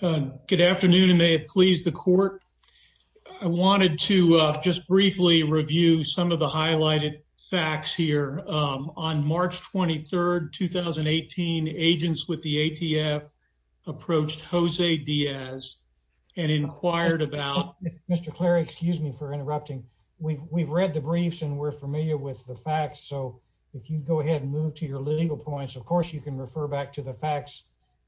Good afternoon and may it please the court. I wanted to just briefly review some of the highlighted facts here. Um, on March 23rd 2018 agents with the A. T. F. Approached Jose Diaz and inquired about Mr. Clary. Excuse me for interrupting. We've read the briefs and we're familiar with the facts. So if you go ahead and move to your legal points, of course, you can refer back to the facts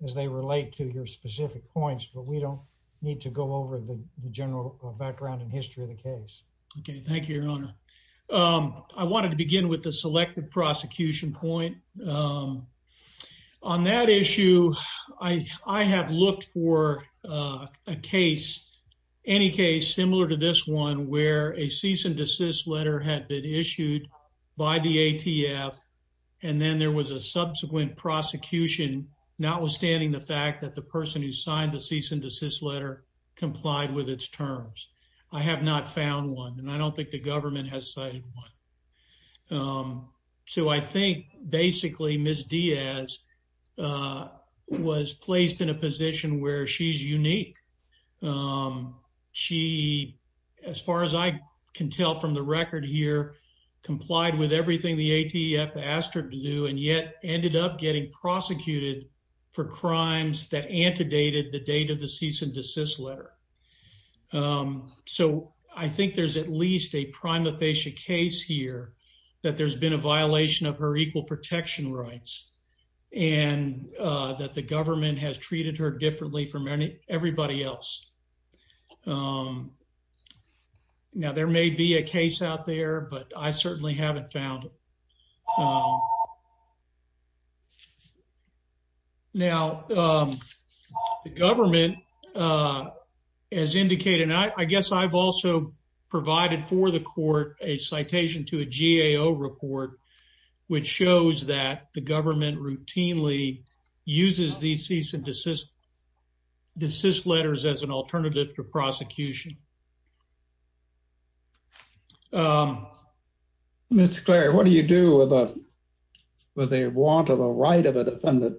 as they relate to your specific points. But we don't need to go over the general background and history of the case. Okay, thank you, Your Honor. Um, I wanted to begin with the selective prosecution point. Um, on that issue, I have looked for a case any case similar to this one where a cease and desist letter had been issued by the A. T. F. And then there was a notwithstanding the fact that the person who signed the cease and desist letter complied with its terms. I have not found one, and I don't think the government has cited one. Um, so I think basically, Miss Diaz, uh, was placed in a position where she's unique. Um, she, as far as I can tell from the record here, complied with everything the A. T. F. Asked her to do and yet ended up getting prosecuted for crimes that antedated the date of the cease and desist letter. Um, so I think there's at least a prima facie case here that there's been a violation of her equal protection rights and that the government has treated her differently from everybody else. Um, now there may be a case out there, but I certainly haven't found it. Now, um, the government, uh, as indicated, I guess I've also provided for the court a citation to a G. A. O. Report, which shows that the government routinely uses these cease and desist desist letters as an alternative to the right of a defendant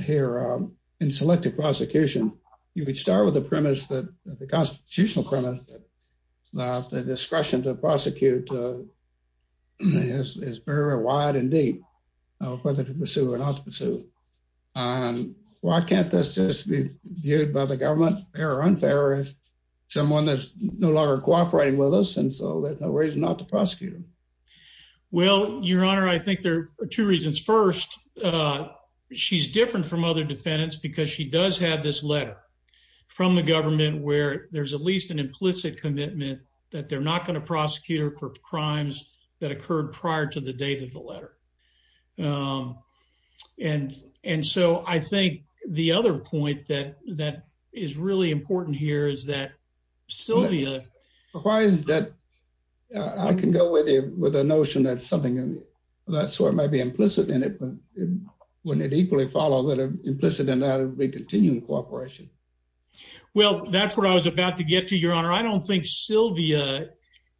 here in selective prosecution. You could start with the premise that the constitutional premise that the discretion to prosecute, uh, yes, is very wide and deep, whether to pursue or not to pursue. Um, why can't this just be viewed by the government? They're unfair as someone that's no longer cooperating with us. And so there's no reason not to prosecute him. Well, Your Honor, I think there are two reasons. First, uh, she's different from other defendants because she does have this letter from the government where there's at least an implicit commitment that they're not going to prosecute her for crimes that occurred prior to the date of the letter. Um, and and so I think the other point that that is really important here is that Sylvia, why is that? I can go with you with a and it wouldn't equally follow that implicit in that we continue cooperation. Well, that's what I was about to get to your honor. I don't think Sylvia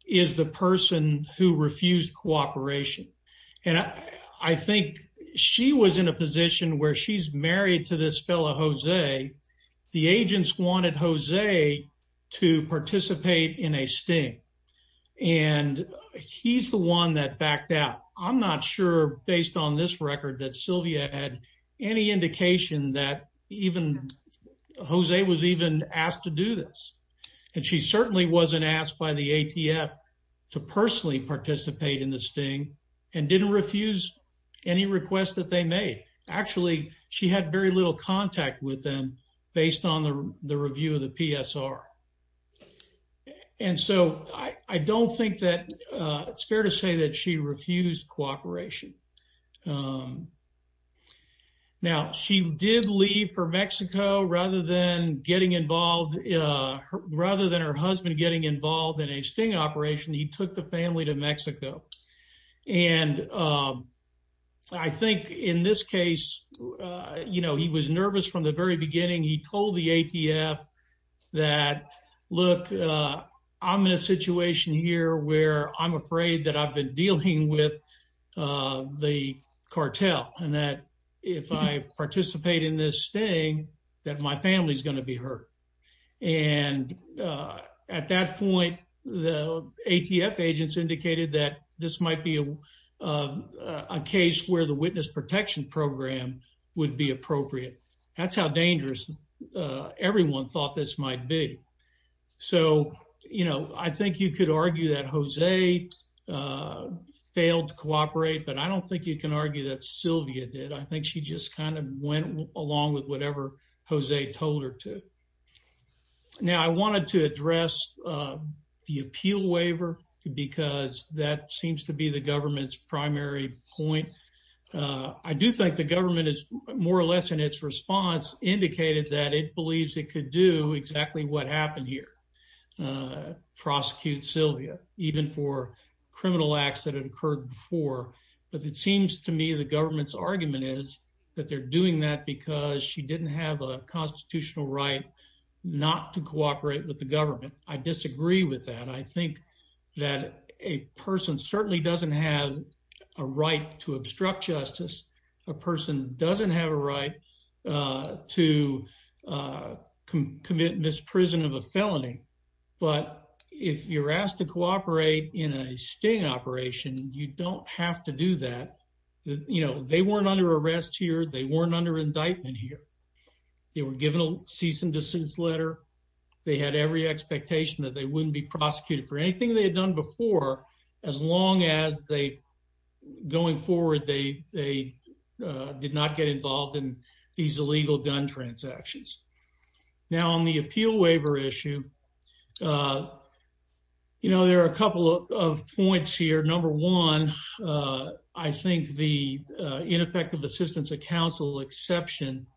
is the person who refused cooperation, and I think she was in a position where she's married to this fellow Jose. The agents wanted Jose to participate in a sting, and he's the one that backed out. I'm not sure, based on this record that Sylvia had any indication that even Jose was even asked to do this, and she certainly wasn't asked by the A. T. F. To personally participate in the sting and didn't refuse any requests that they made. Actually, she had very little contact with them based on the review of the P. S. R. And so I don't think that it's fair to say that she refused cooperation. Um, now she did leave for Mexico rather than getting involved. Uh, rather than her husband getting involved in a sting operation, he took the family to Mexico. And, um, I think in this case, you know, he was nervous from the very beginning. He told the A. T. F. That look, I'm in a situation here where I'm afraid that I've been dealing with the cartel and that if I participate in this thing that my family's gonna be hurt. And at that point, the A. T. F. agents indicated that this might be, uh, a case where the witness protection program would be appropriate. That's how dangerous everyone thought this might be. So, you know, I think you could argue that Jose, uh, failed cooperate, but I don't think you can argue that Sylvia did. I think she just kind of went along with whatever Jose told her to. Now, I wanted to address, uh, the appeal waiver because that seems to be the government's primary point. Uh, I do think the government is more or less in its response indicated that it believes it could do exactly what happened here. Uh, prosecute Sylvia even for criminal acts that had occurred before. But it seems to me the government's argument is that they're doing that because she not to cooperate with the government. I disagree with that. I think that a person certainly doesn't have a right to obstruct justice. A person doesn't have a right, uh, to, uh, commit misprison of a felony. But if you're asked to cooperate in a sting operation, you don't have to do that. You know, they weren't under arrest here. They weren't under indictment here. They were given a cease and desist letter. They had every expectation that they wouldn't be prosecuted for anything they had done before. As long as they going forward, they did not get involved in these illegal gun transactions. Now, on the appeal waiver issue, uh, you know, there are a couple of points here. Number one. Uh, I think the ineffective assistance of counsel exception,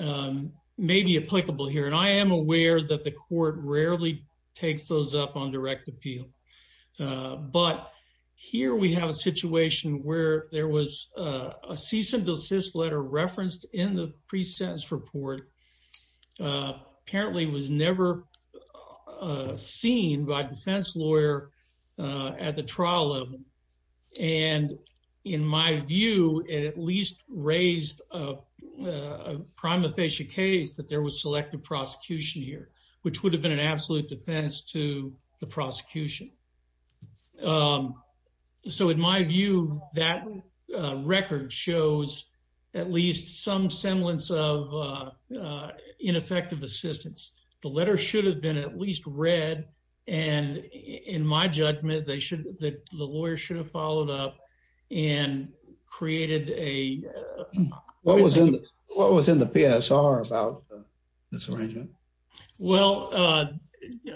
um, maybe applicable here, and I am aware that the court rarely takes those up on direct appeal. But here we have a situation where there was a cease and desist letter referenced in the pre sentence report. Uh, apparently was never, uh, seen by defense lawyer at the trial level. And in my view, it at raised, uh, prima facie case that there was selected prosecution here, which would have been an absolute defense to the prosecution. Um, so in my view, that record shows at least some semblance of, uh, ineffective assistance. The letter should have been at least read. And in my judgment, they should that the lawyer should have followed up and created a what was in what was in the PSR about this arrangement? Well, uh,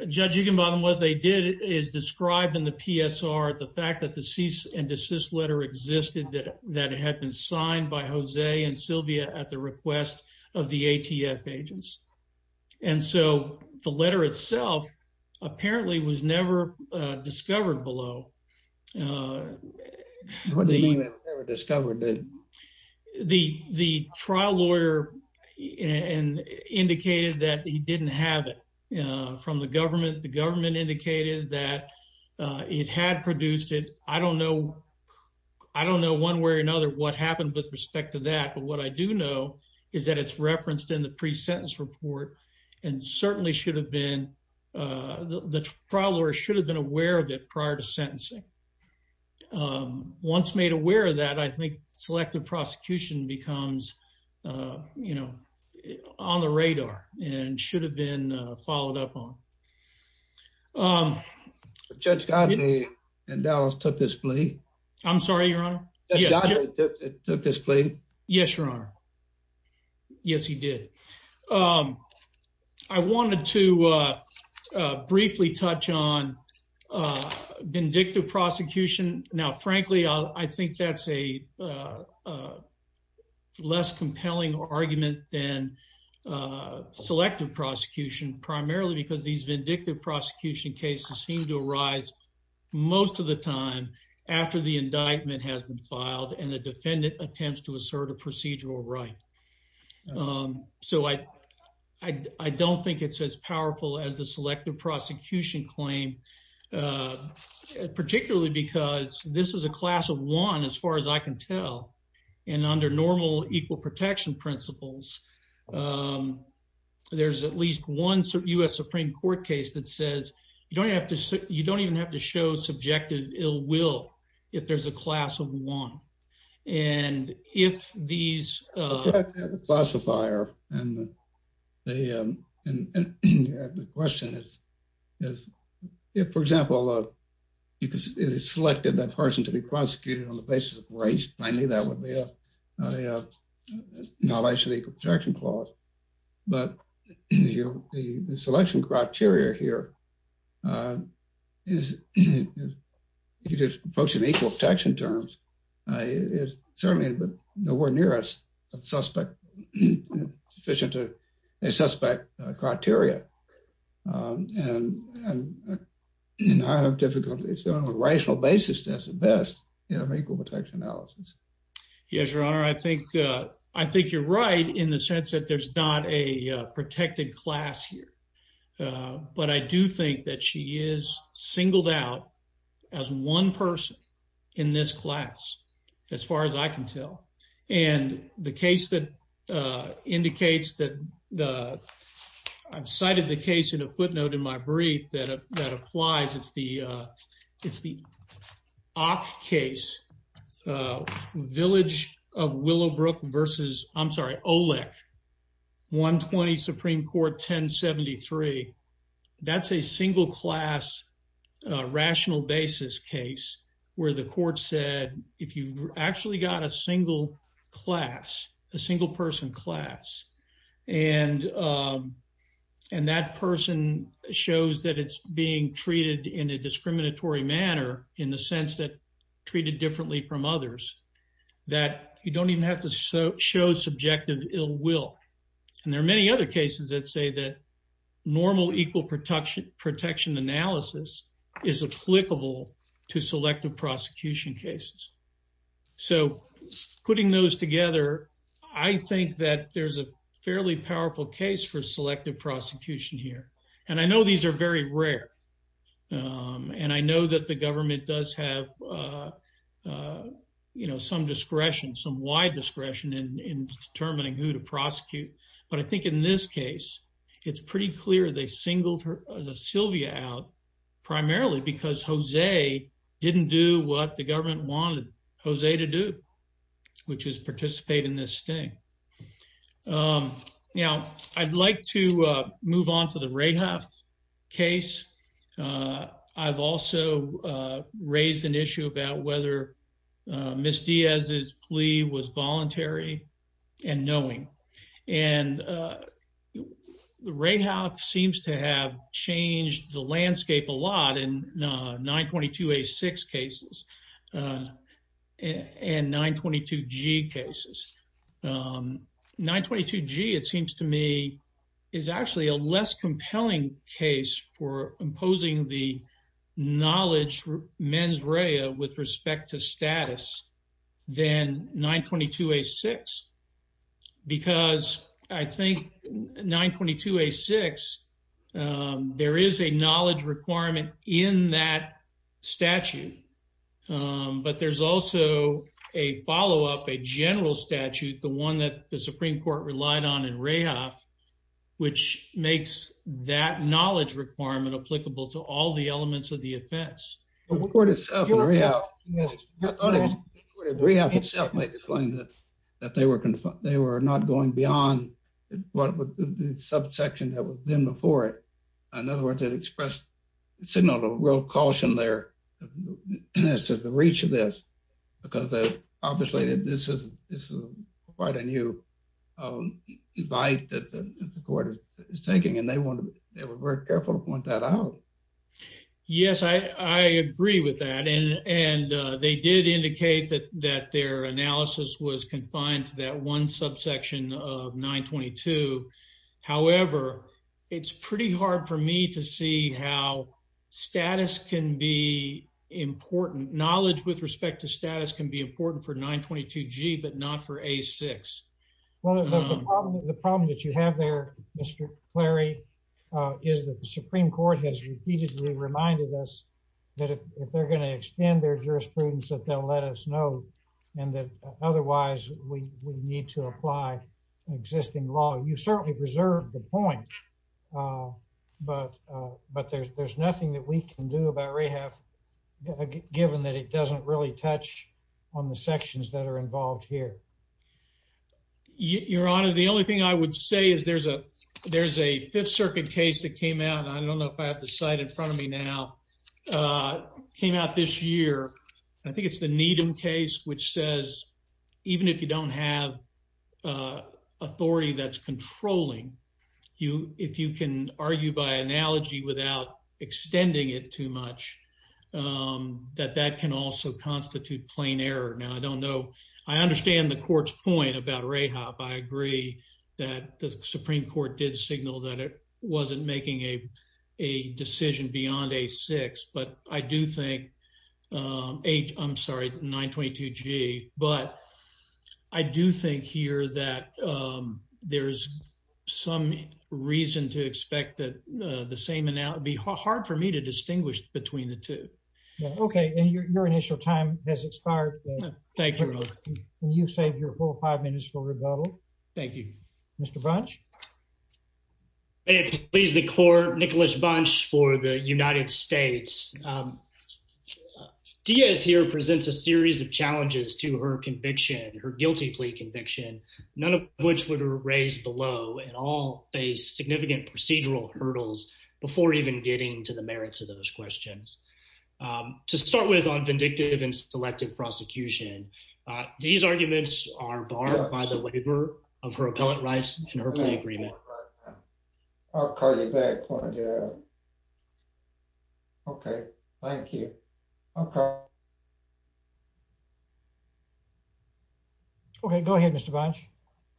judging him on what they did is described in the PSR. The fact that the cease and desist letter existed that that had been signed by Jose and Sylvia at the request of the ATF agents. And so the letter itself apparently was never discovered below. Uh, what do you mean? I've never discovered that the the trial lawyer and indicated that he didn't have it from the government. The government indicated that it had produced it. I don't know. I don't know one way or another what happened with respect to that. But what I do know is that it's referenced in the pre sentence report and certainly should have been. Uh, the trial lawyer should have been aware of it prior to sentencing. Um, once made aware of that, I think selective prosecution becomes, uh, you know, on the radar and should have been followed up on. Um, Judge Godney and Dallas took this plea. I'm um, I wanted to, uh, briefly touch on, uh, vindictive prosecution. Now, frankly, I think that's a, uh, less compelling argument than, uh, selective prosecution, primarily because these vindictive prosecution cases seem to arise most of the time after the indictment has been filed and the I don't think it's as powerful as the selective prosecution claim, uh, particularly because this is a class of one. As far as I can tell, and under normal equal protection principles, um, there's at least one U. S. Supreme Court case that says you don't have to. You don't even have to show subjective ill if there's a class of one. And if these, uh, classifier and they, um, and the question is, is if, for example, uh, because it is selected that person to be prosecuted on the basis of race. I mean, that would be a, uh, knowledge of protection clause. But the selection criteria here, uh, is if you just approach an equal protection terms, uh, is certainly but nowhere near us a suspect sufficient to a suspect criteria. Um, and I have difficulties on a rational basis. That's the best equal protection analysis. Yes, Your right in the sense that there's not a protected class here. But I do think that she is singled out as one person in this class, as far as I can tell. And the case that indicates that the I've cited the case in a footnote in my brief that that applies. It's the it's the off case. Uh, village of Willow Brook versus I'm sorry, Olek 1 20 Supreme Court 10 73. That's a single class rational basis case where the court said if you actually got a single class, a single person class and, um, and that person shows that it's being treated in a discriminatory manner in the sense that treated differently from others that you don't even have to show subjective ill will. And there are many other cases that say that normal equal protection protection analysis is applicable to selective prosecution cases. So putting those together, I think that there's a fairly powerful case for selective prosecution here, and I know these air very rare. Um, and I know that the uh, you know, some discretion, some wide discretion in determining who to prosecute. But I think in this case, it's pretty clear they singled her Sylvia out primarily because Jose didn't do what the government wanted Jose to do, which is participate in this thing. Um, you know, I'd like to miss Diaz. His plea was voluntary and knowing. And, uh, the ray house seems to have changed the landscape a lot in 9 22 a six cases. Uh, and 9 22 g cases. Um, 9 22 g. It seems to me is actually a less compelling case for imposing the knowledge mens rea with respect to status than 9 22 a six because I think 9 22 a six. Um, there is a knowledge requirement in that statute. Um, but there's also a follow up a general statute, the one that the Supreme Court relied on in rehab, which makes that knowledge requirement applicable to all the elements of the offense. The court itself in rehab. Yes, the rehab itself might explain that they were they were not going beyond what the subsection that was then before it. In other words, it expressed it's another real caution there as to the reach of this because obviously this is quite a new um, advice that the court is taking, and they want they were very careful to point that out. Yes, I agree with that. And and they did indicate that that their analysis was confined to that one subsection of 9 22. However, it's pretty hard for me to see how status can be important. Knowledge with respect to well, the problem that you have there, Mr Clary, uh, is that the Supreme Court has repeatedly reminded us that if they're gonna extend their jurisprudence that they'll let us know and that otherwise we need to apply existing law. You certainly preserved the point. Uh, but but there's nothing that we can do about rehab, given that it doesn't really touch on the sections that are your honor. The only thing I would say is there's a there's a Fifth Circuit case that came out. I don't know if I have the site in front of me now. Uh, came out this year. I think it's the Needham case, which says even if you don't have, uh, authority that's controlling you, if you can argue by analogy without extending it too much, um, that that can also constitute plain error. Now, I don't know. I understand the court's point about Ray half. I agree that the Supreme Court did signal that it wasn't making a a decision beyond a six. But I do think, um, eight. I'm sorry. 9 22 G. But I do think here that, um, there's some reason to expect that the same and that would be hard for me to distinguish between the two. Okay. And your initial time has fired. Thank you. You save your 45 minutes for rebuttal. Thank you, Mr Bunch. Please. The court. Nicholas Bunch for the United States. Um, Diaz here presents a series of challenges to her conviction, her guilty plea conviction, none of which would have raised below and all a significant procedural hurdles before even getting to the merits of those questions. Um, to start with on vindictive and selective prosecution, these arguments are barred by the waiver of her appellate rights in her agreement. I'll call you back. Okay, thank you. Okay. Okay, go ahead, Mr Bunch.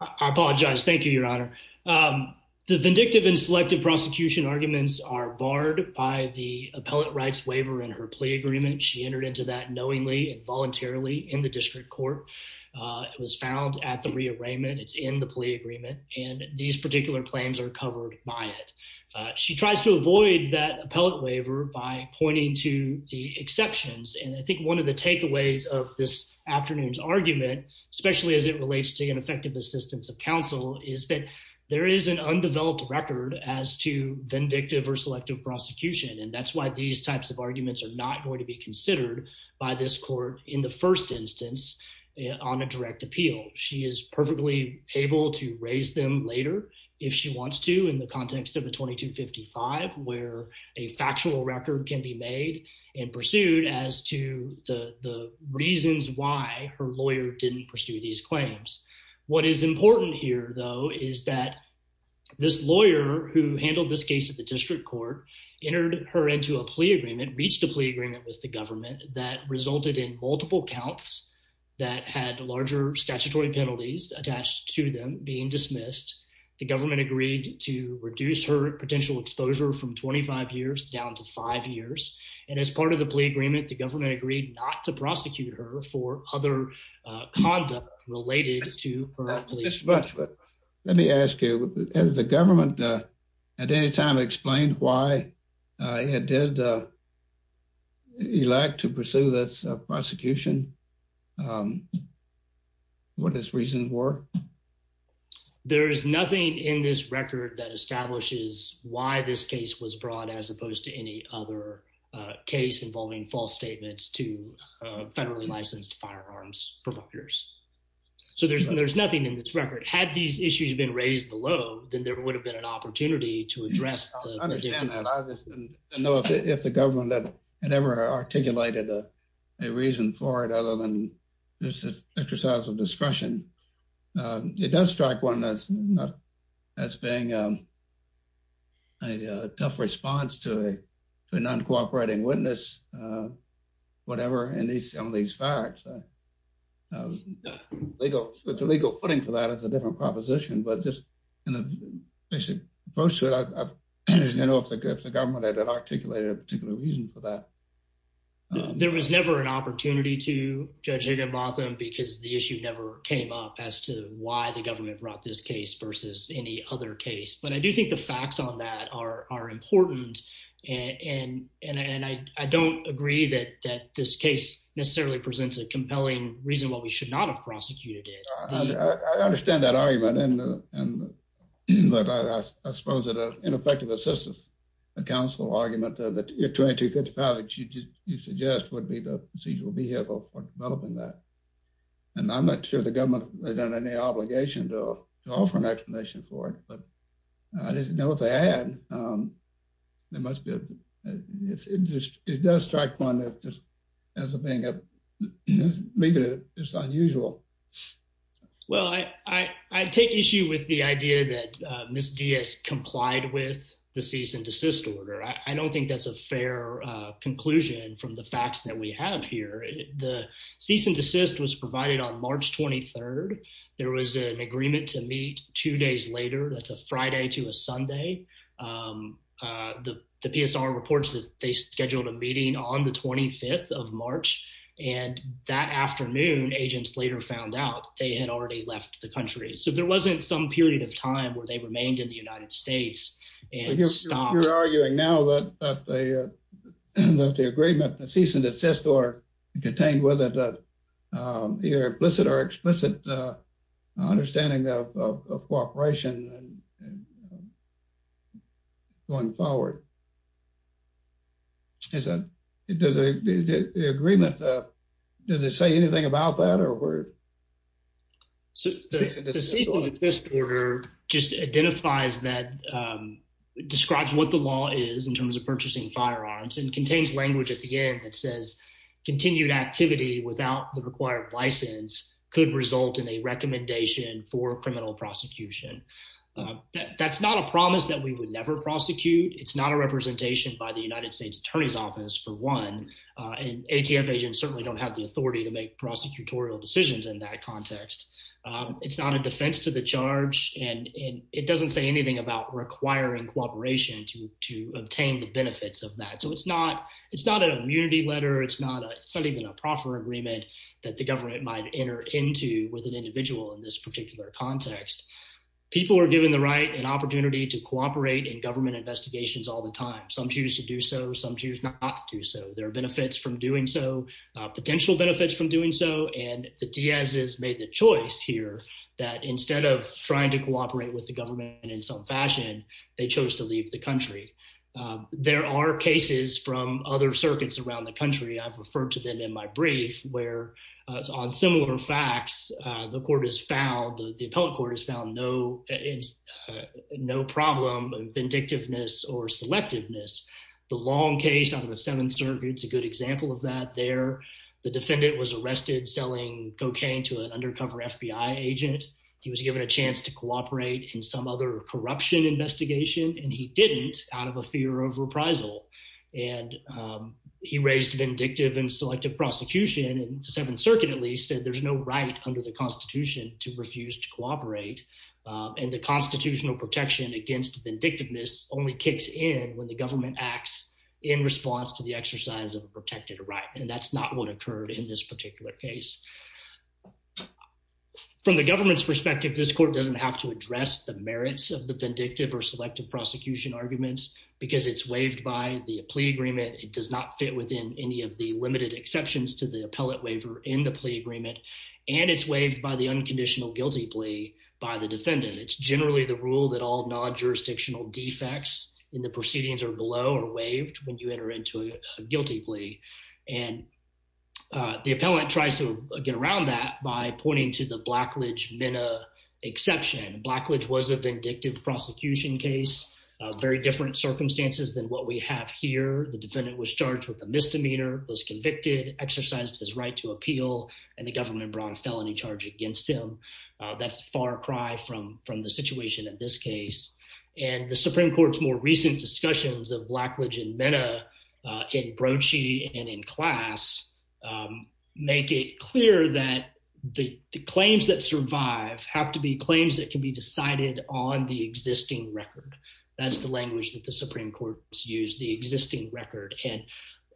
I apologize. Thank you, Your Honor. Um, the vindictive and selective prosecution arguments are barred by the appellate rights waiver in her plea agreement. She entered into that knowingly and voluntarily in the district court. It was found at the rearrangement. It's in the plea agreement, and these particular claims are covered by it. She tries to avoid that appellate waiver by pointing to the exceptions. And I think one of the takeaways of this afternoon's argument, especially as it relates to ineffective assistance of counsel, is that there is an undeveloped record as to vindictive or selective prosecution. And that's why these types of arguments are not going to be considered by this court in the first instance on a direct appeal. She is perfectly able to raise them later if she wants to, in the context of the 22 55, where a factual record can be made and pursued as to the reasons why her lawyer didn't pursue these claims. What is important here, though, is that this lawyer who handled this case of the district court entered her into a plea agreement, reached a plea agreement with the government that resulted in multiple counts that had larger statutory penalties attached to them being dismissed. The government agreed to reduce her potential exposure from 25 years down to five years. And as part of the plea agreement, the government agreed not to prosecute her for other conduct related to this much. But let me ask you, has the government at any time explained why I did, uh, you like to pursue this prosecution? Um, what is reason work? There is nothing in this record that establishes why this case was brought, as opposed to any other case involving false statements to federally licensed firearms providers. So there's there's nothing in this record. Had these issues been raised below, then there would have been an opportunity to address. I know if the government that had ever articulated a reason for it other than this exercise of discretion, it does strike one that's not that's being, um, a tough response to a to a non cooperating witness. Uh, whatever. And these some of these facts legal legal footing for that is a different proposition. But just, you know, they should approach it. I don't know if the government that articulated a particular reason for that. There was never an opportunity to judge Higginbotham because the issue never came up as to why the government brought this case versus any other case. But I do think the facts on that are important. And and and I don't agree that that this case necessarily presents a compelling reason why we should not have prosecuted it. I understand that argument. And but I suppose that ineffective assistance, a council argument that you're trying to 55 that you just you suggest would be the procedural vehicle for developing that. And I'm not sure the government has done any obligation to offer an explanation for it. But I didn't know what they had. Um, there must be. It does strike one as a thing of maybe it's unusual. Well, I take issue with the idea that Miss Diaz complied with the cease and desist order. I don't think that's a fair conclusion from the facts that we have here. The cease and desist was provided on March 23rd. There was an agreement to meet two days later. That's a Friday to a Sunday. Um, the PSR reports that they scheduled a meeting on the 25th of March. And that afternoon, agents later found out they had already left the country. So there wasn't some period of time where they remained in the United States. And you're arguing now that the that the agreement, the cease and desist or contained with it, uh, your implicit or cooperation going forward. Is that does the agreement? Uh, does it say anything about that? Or where so this order just identifies that, um, describes what the law is in terms of purchasing firearms and contains language at the end that says continued activity without the required license could result in a recommendation for criminal prosecution. Uh, that's not a promise that we would never prosecute. It's not a representation by the United States Attorney's Office for one. Uh, and ATF agents certainly don't have the authority to make prosecutorial decisions in that context. Um, it's not a defense to the charge, and it doesn't say anything about requiring cooperation to to obtain the benefits of that. So it's not. It's not an immunity letter. It's not even a proper agreement that the government might enter into with an individual in this particular context. People are given the right and opportunity to cooperate in government investigations all the time. Some choose to do so. Some choose not to do so. There are benefits from doing so potential benefits from doing so. And the Diaz is made the choice here that instead of trying to cooperate with the government in some fashion, they chose to leave the country. There are cases from other circuits around the country. I've referred to them in my brief where on similar facts, the court is found. The appellate court has found no, uh, no problem, vindictiveness or selectiveness. The long case out of the Seventh Circuit's a good example of that. There, the defendant was arrested selling cocaine to an undercover FBI agent. He was given a chance to cooperate in some other corruption investigation, and he didn't out of a fear of reprisal. And, um, he raised vindictive and selective prosecution and the Seventh Circuit, at least said there's no right under the Constitution to refuse to cooperate. Um, and the constitutional protection against vindictiveness only kicks in when the government acts in response to the exercise of protected right. And that's not what occurred in this particular case. From the government's perspective, this court doesn't have to address the merits of the vindictive or selective prosecution arguments because it's waived by the plea agreement. It does not fit within any of the limited exceptions to the appellate waiver in the plea agreement, and it's waived by the unconditional guilty plea by the defendant. It's generally the rule that all non jurisdictional defects in the proceedings are below or waived when you enter into a guilty plea. And, uh, the appellant tries to get around that by pointing to the Blackledge Minna exception. Blackledge was a vindictive prosecution case, very different circumstances than what we have here. The defendant was charged with a misdemeanor, was convicted, exercised his right to appeal, and the government brought a felony charge against him. That's far cry from from the situation in this case. And the Supreme Court's more recent discussions of Blackledge and Minna in Broachy and in class, um, make it clear that the claims that survive have to be claims that could be decided on the existing record. That is the language that the Supreme Court used the existing record. And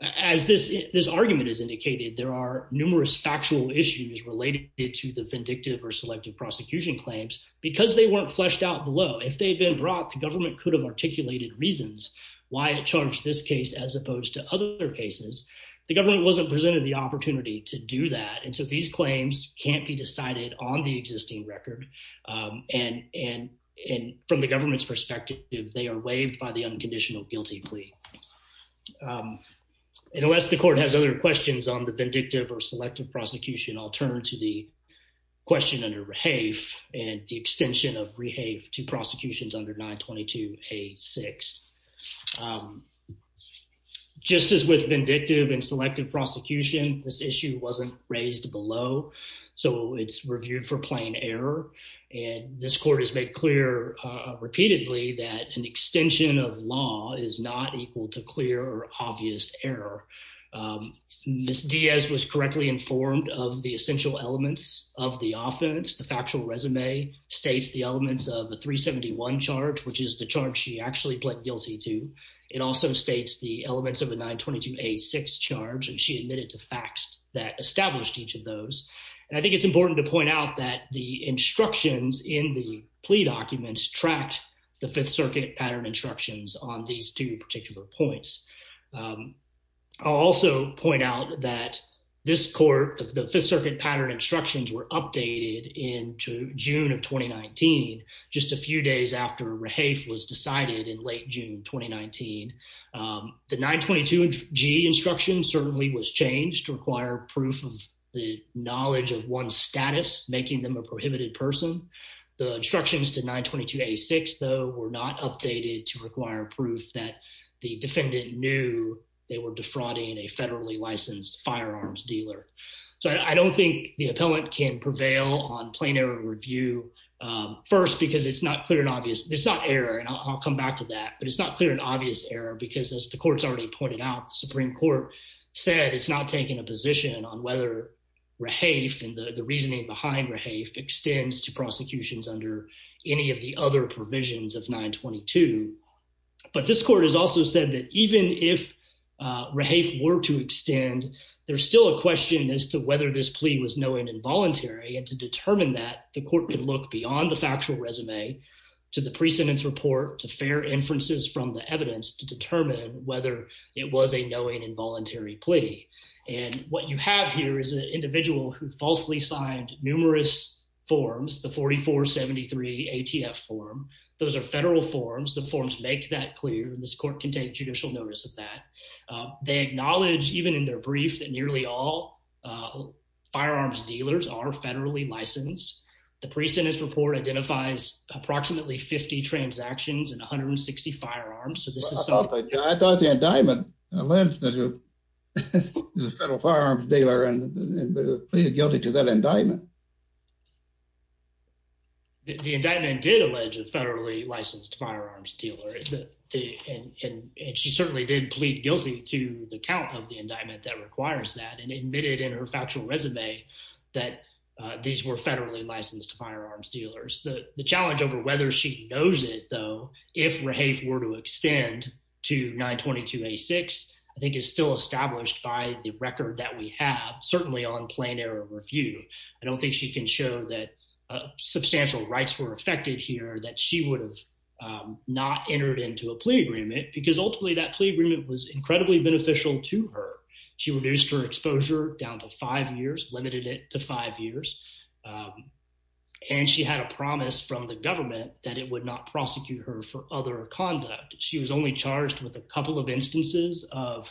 as this this argument is indicated, there are numerous factual issues related to the vindictive or selective prosecution claims because they weren't fleshed out below. If they've been brought, the government could have articulated reasons why it charged this case as opposed to other cases. The government wasn't presented the opportunity to do that. And so these claims can't be decided on the existing record. Um, and and and from the government's perspective, they are waived by the unconditional guilty plea. Um, and unless the court has other questions on the vindictive or selective prosecution, I'll turn to the question under Rehave and the extension of Rehave to prosecutions under 922 a six. Um, just as with vindictive and selective prosecution, this issue wasn't raised below, so it's reviewed for plain error. And this court has made clear repeatedly that an extension of law is not equal to clear or obvious error. Um, Miss Diaz was correctly informed of the essential elements of the offense. The factual resume states the elements of the 3 71 charge, which is the charge she actually pled guilty to. It also states the elements of the 9 22 a six charge, and she admitted to facts that established each of those. And I think it's important to point out that the instructions in the plea documents tracked the Fifth Circuit pattern instructions on these two particular points. Um, I'll also point out that this court of the Fifth Circuit pattern instructions were updated in June of 2019, just a few days after Rehave was decided in late June 2019. Um, the 9 22 G instructions certainly was changed to require proof of the knowledge of one status, making them a prohibited person. The instructions to 9 22 a six, though, were not updated to require proof that the defendant knew they were defrauding a federally licensed firearms dealer. So I don't think the appellant can prevail on plain error review first, because it's not clear and obvious. It's not error, and I'll come back to that. But it's not clear an obvious error, because, as the court's already pointed out, the Supreme Court said it's not taking a position on whether Rehave and the reasoning behind Rehave extends to prosecutions under any of the other provisions of 9 22. But this court has also said that even if Rehave were to extend, there's still a question as to whether this plea was knowing involuntary and to determine that the court could look beyond the factual resume to the precedence report to fair inferences from the evidence to it was a knowing involuntary plea. And what you have here is an individual who falsely signed numerous forms. The 44 73 A. T. F. Form. Those air federal forms. The forms make that clear. This court can take judicial notice of that. They acknowledge, even in their brief that nearly all, uh, firearms dealers are federally licensed. The precedence report identifies approximately 50 transactions and 160 firearms. So this is something I thought the indictment learns that the federal firearms dealer and guilty to that indictment. The indictment did allege a federally licensed firearms dealer, and she certainly did plead guilty to the count of the indictment that requires that and admitted in her factual resume that these were federally licensed firearms dealers. The challenge over whether she knows it, though, if we're a were to extend to 9 22 a six, I think is still established by the record that we have certainly on plain air of review. I don't think she can show that substantial rights were affected here that she would have, um, not entered into a plea agreement because ultimately that plea agreement was incredibly beneficial to her. She reduced her exposure down to five years, limited it to five years. Um, and she had a promise from the government that it would not prosecute her for other conduct. She was only charged with a couple of instances of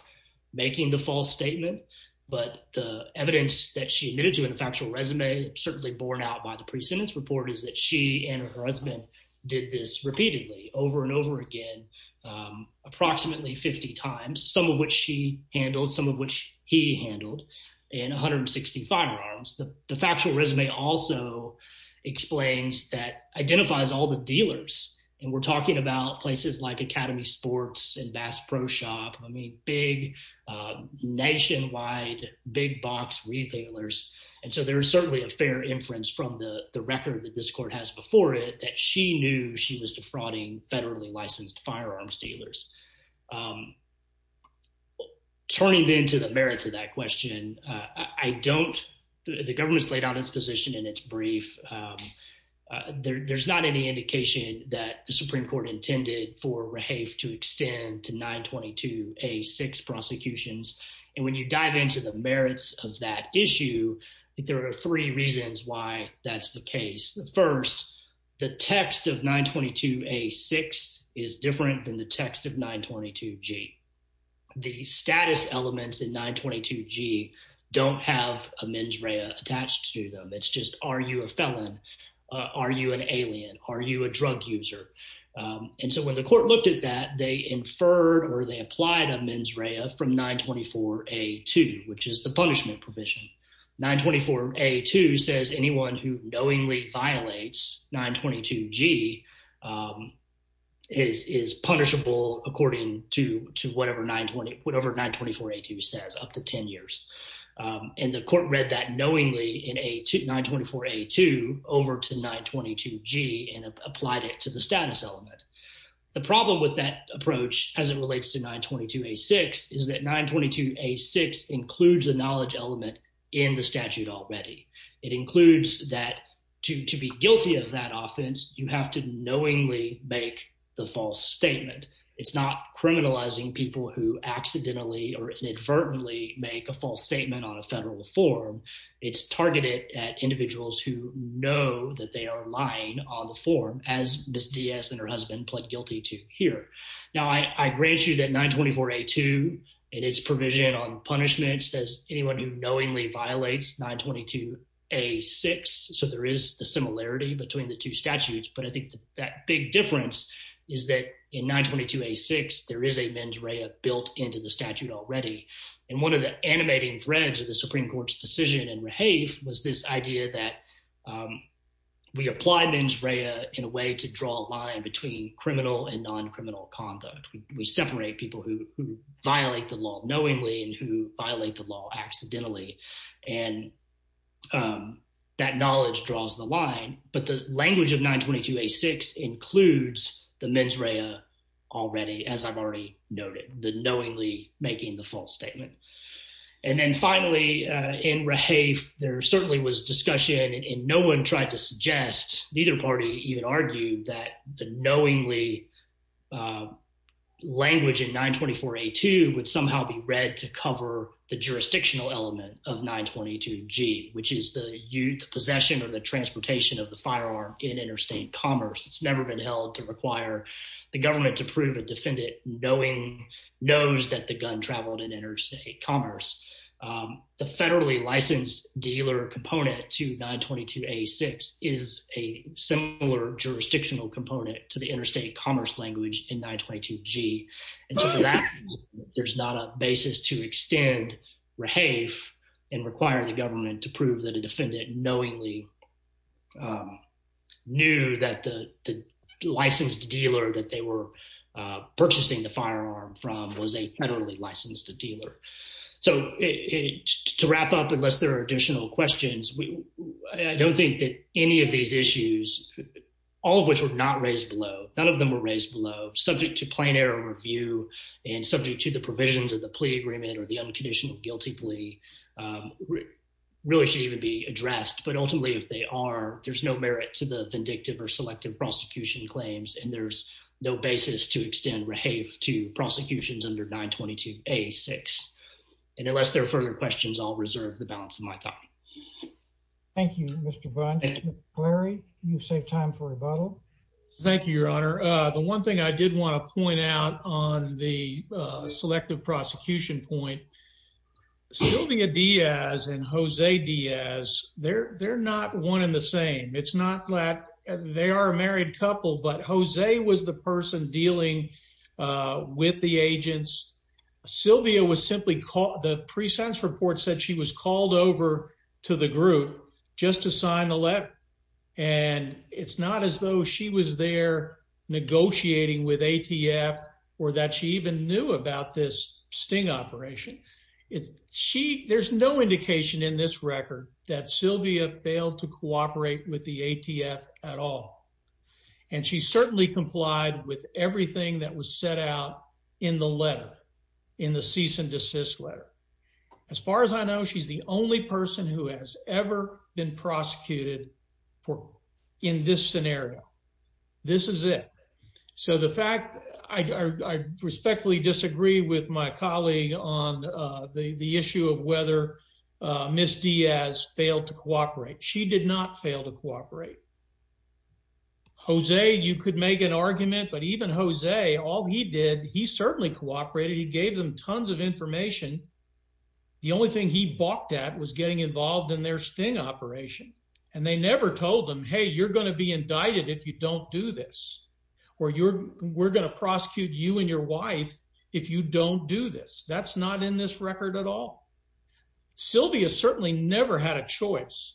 making the false statement. But the evidence that she admitted to in a factual resume, certainly borne out by the precedence report is that she and her husband did this repeatedly over and over again, um, approximately 50 times, some of which she handled some of which he handled in 160 firearms. The factual resume also explains that identifies all the dealers. And we're talking about places like Academy Sports and Bass Pro Shop. I mean, big, uh, nationwide big box retailers. And so there's certainly a fair inference from the record that this court has before it that she knew she was defrauding federally licensed firearms dealers. Um, turning into the merits of that question, I don't. The government's laid out its position in its brief. Um, there's not any indication that the Supreme Court intended for Rehave to extend to 9 22 a six prosecutions. And when you dive into the merits of that issue, there are three reasons why that's the case. The first, the text of 9 22 a six is different than the text of 9 22 G. The status elements in 9 22 G don't have a mens rea attached to them. It's just Are you a felon? Are you an alien? Are you a drug user? And so when the court looked at that, they inferred or they applied a mens rea from 9 24 a two, which is the punishment provision. 9 24 a two says anyone who according to whatever 9 20 whatever 9 24 a two says up to 10 years. Um, and the court read that knowingly in a 9 24 a two over to 9 22 G and applied it to the status element. The problem with that approach as it relates to 9 22 a six is that 9 22 a six includes the knowledge element in the statute already. It includes that to be guilty of that offense. You have to knowingly make the false statement. It's not criminalizing people who accidentally or inadvertently make a false statement on a federal form. It's targeted at individuals who know that they are lying on the form as Miss Diaz and her husband pled guilty to here. Now, I grant you that 9 24 a two and its provision on punishment says anyone who knowingly violates 9 22 a six. So there is the similarity between the two statutes. But I think that big difference is that in 9 22 a six there is a mens rea built into the statute already. And one of the animating threads of the Supreme Court's decision and behave was this idea that, um, we applied mens rea in a way to draw a line between criminal and non criminal conduct. We separate people who violate the law knowingly and who violate the law accidentally. And, um, that knowledge draws the line. But the language of 9 22 a six includes the mens rea already, as I've already noted, the knowingly making the false statement. And then finally, in rehave, there certainly was discussion, and no one tried to suggest neither party even argued that the knowingly, uh, language in 9 24 a two would somehow be read to cover the jurisdictional element of 9 22 G, which is the youth possession or the transportation of the firearm in interstate commerce. It's never been held to require the government to prove a defendant knowing knows that the gun traveled in interstate commerce. Um, the federally licensed dealer component to 9 22 a six is a similar jurisdictional component to the interstate commerce language in 9 22 G. And so for that, there's not a basis to extend rehave and require the government to prove that a defendant knowingly, um, knew that the licensed dealer that they were purchasing the firearm from was a federally licensed dealer. So to wrap up, unless there are additional questions, I don't think that any of these issues, all of which were not raised below, none of them were raised below subject to plain air review and subject to the provisions of the plea agreement or the unconditional guilty plea really should even be addressed. But ultimately, if they are, there's no merit to the vindictive or selective prosecution claims, and there's no basis to extend rehave to prosecutions under 9 22 a six. And unless there further questions, I'll reserve the balance of my time. Thank you, Mr Larry. You save time for rebuttal. Thank you, Your Honor. The one thing I did want to point out on the selective prosecution point, Sylvia Diaz and Jose Diaz there. They're not one in the same. It's not that they are a married couple, but Jose was the person dealing with the agents. Sylvia was simply caught. The pre sense report said she was called over to the group just to let, and it's not as though she was there negotiating with ATF or that she even knew about this sting operation. It's she. There's no indication in this record that Sylvia failed to cooperate with the ATF at all, and she certainly complied with everything that was set out in the letter in the cease and desist letter. As far as I know, she's the only person who has ever been prosecuted for in this scenario. This is it. So the fact I respectfully disagree with my colleague on the issue of whether Miss Diaz failed to cooperate. She did not fail to cooperate. Jose, you could make an argument, but even Jose, all he did, he certainly cooperated. He gave them tons of information. The only thing he balked at was getting involved in their sting operation, and they never told them, Hey, you're gonna be indicted if you don't do this, or you're we're gonna prosecute you and your wife if you don't do this. That's not in this record at all. Sylvia certainly never had a choice.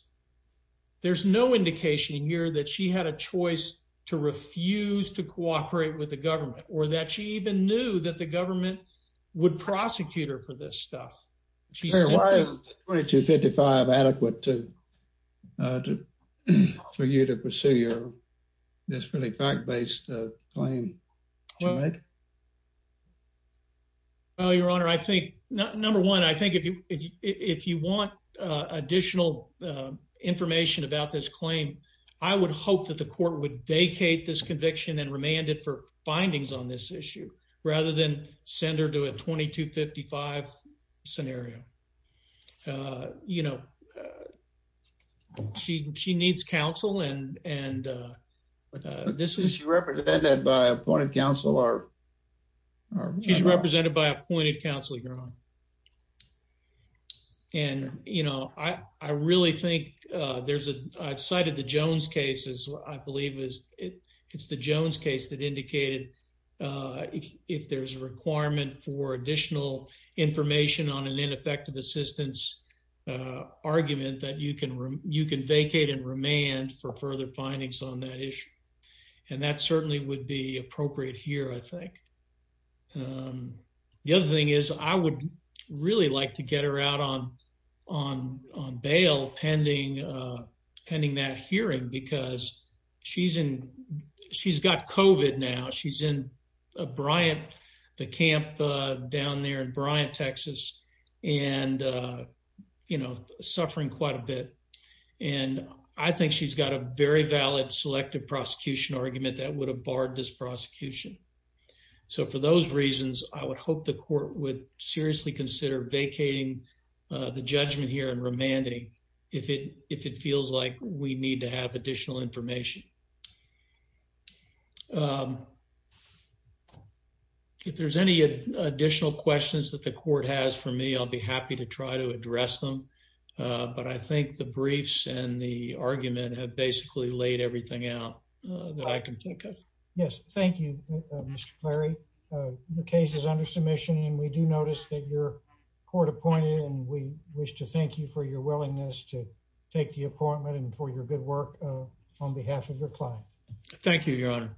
There's no indication here that she had a choice to refuse to cooperate with the government or that she even knew that the government would prosecute her for this stuff. Why 22 55 adequate to for you to pursue your desperately fact based claim? Well, Your Honor, I think number one, I think if you if you want additional information about this claim, I would hope that the court would vacate this issue rather than send her to a 22 55 scenario. Uh, you know, she she needs counsel. And and, uh, this is represented by appointed counselor. He's represented by appointed counsel. You're on. And, you know, I I really think there's a I've cited the Jones cases. I believe is it's the Jones case that indicated, uh, if there's a requirement for additional information on an ineffective assistance, uh, argument that you can you can vacate and remand for further findings on that issue. And that certainly would be appropriate here, I think. Um, the other thing is, I would really like to get her out on on on bail pending pending that hearing because she's in. She's got Cove it now. She's in Bryant, the camp down there in Bryant, Texas, and, uh, you know, suffering quite a bit. And I think she's got a very valid selective prosecution argument that would have barred this prosecution. So for those reasons, I would hope the court would seriously consider vacating the if it if it feels like we need to have additional information. Um, if there's any additional questions that the court has for me, I'll be happy to try to address them. But I think the briefs and the argument have basically laid everything out that I can think of. Yes. Thank you, Larry. The case is under submission, and we do notice that your court appointed, and we wish to your willingness to take the appointment and for your good work on behalf of your client. Thank you, Your Honor.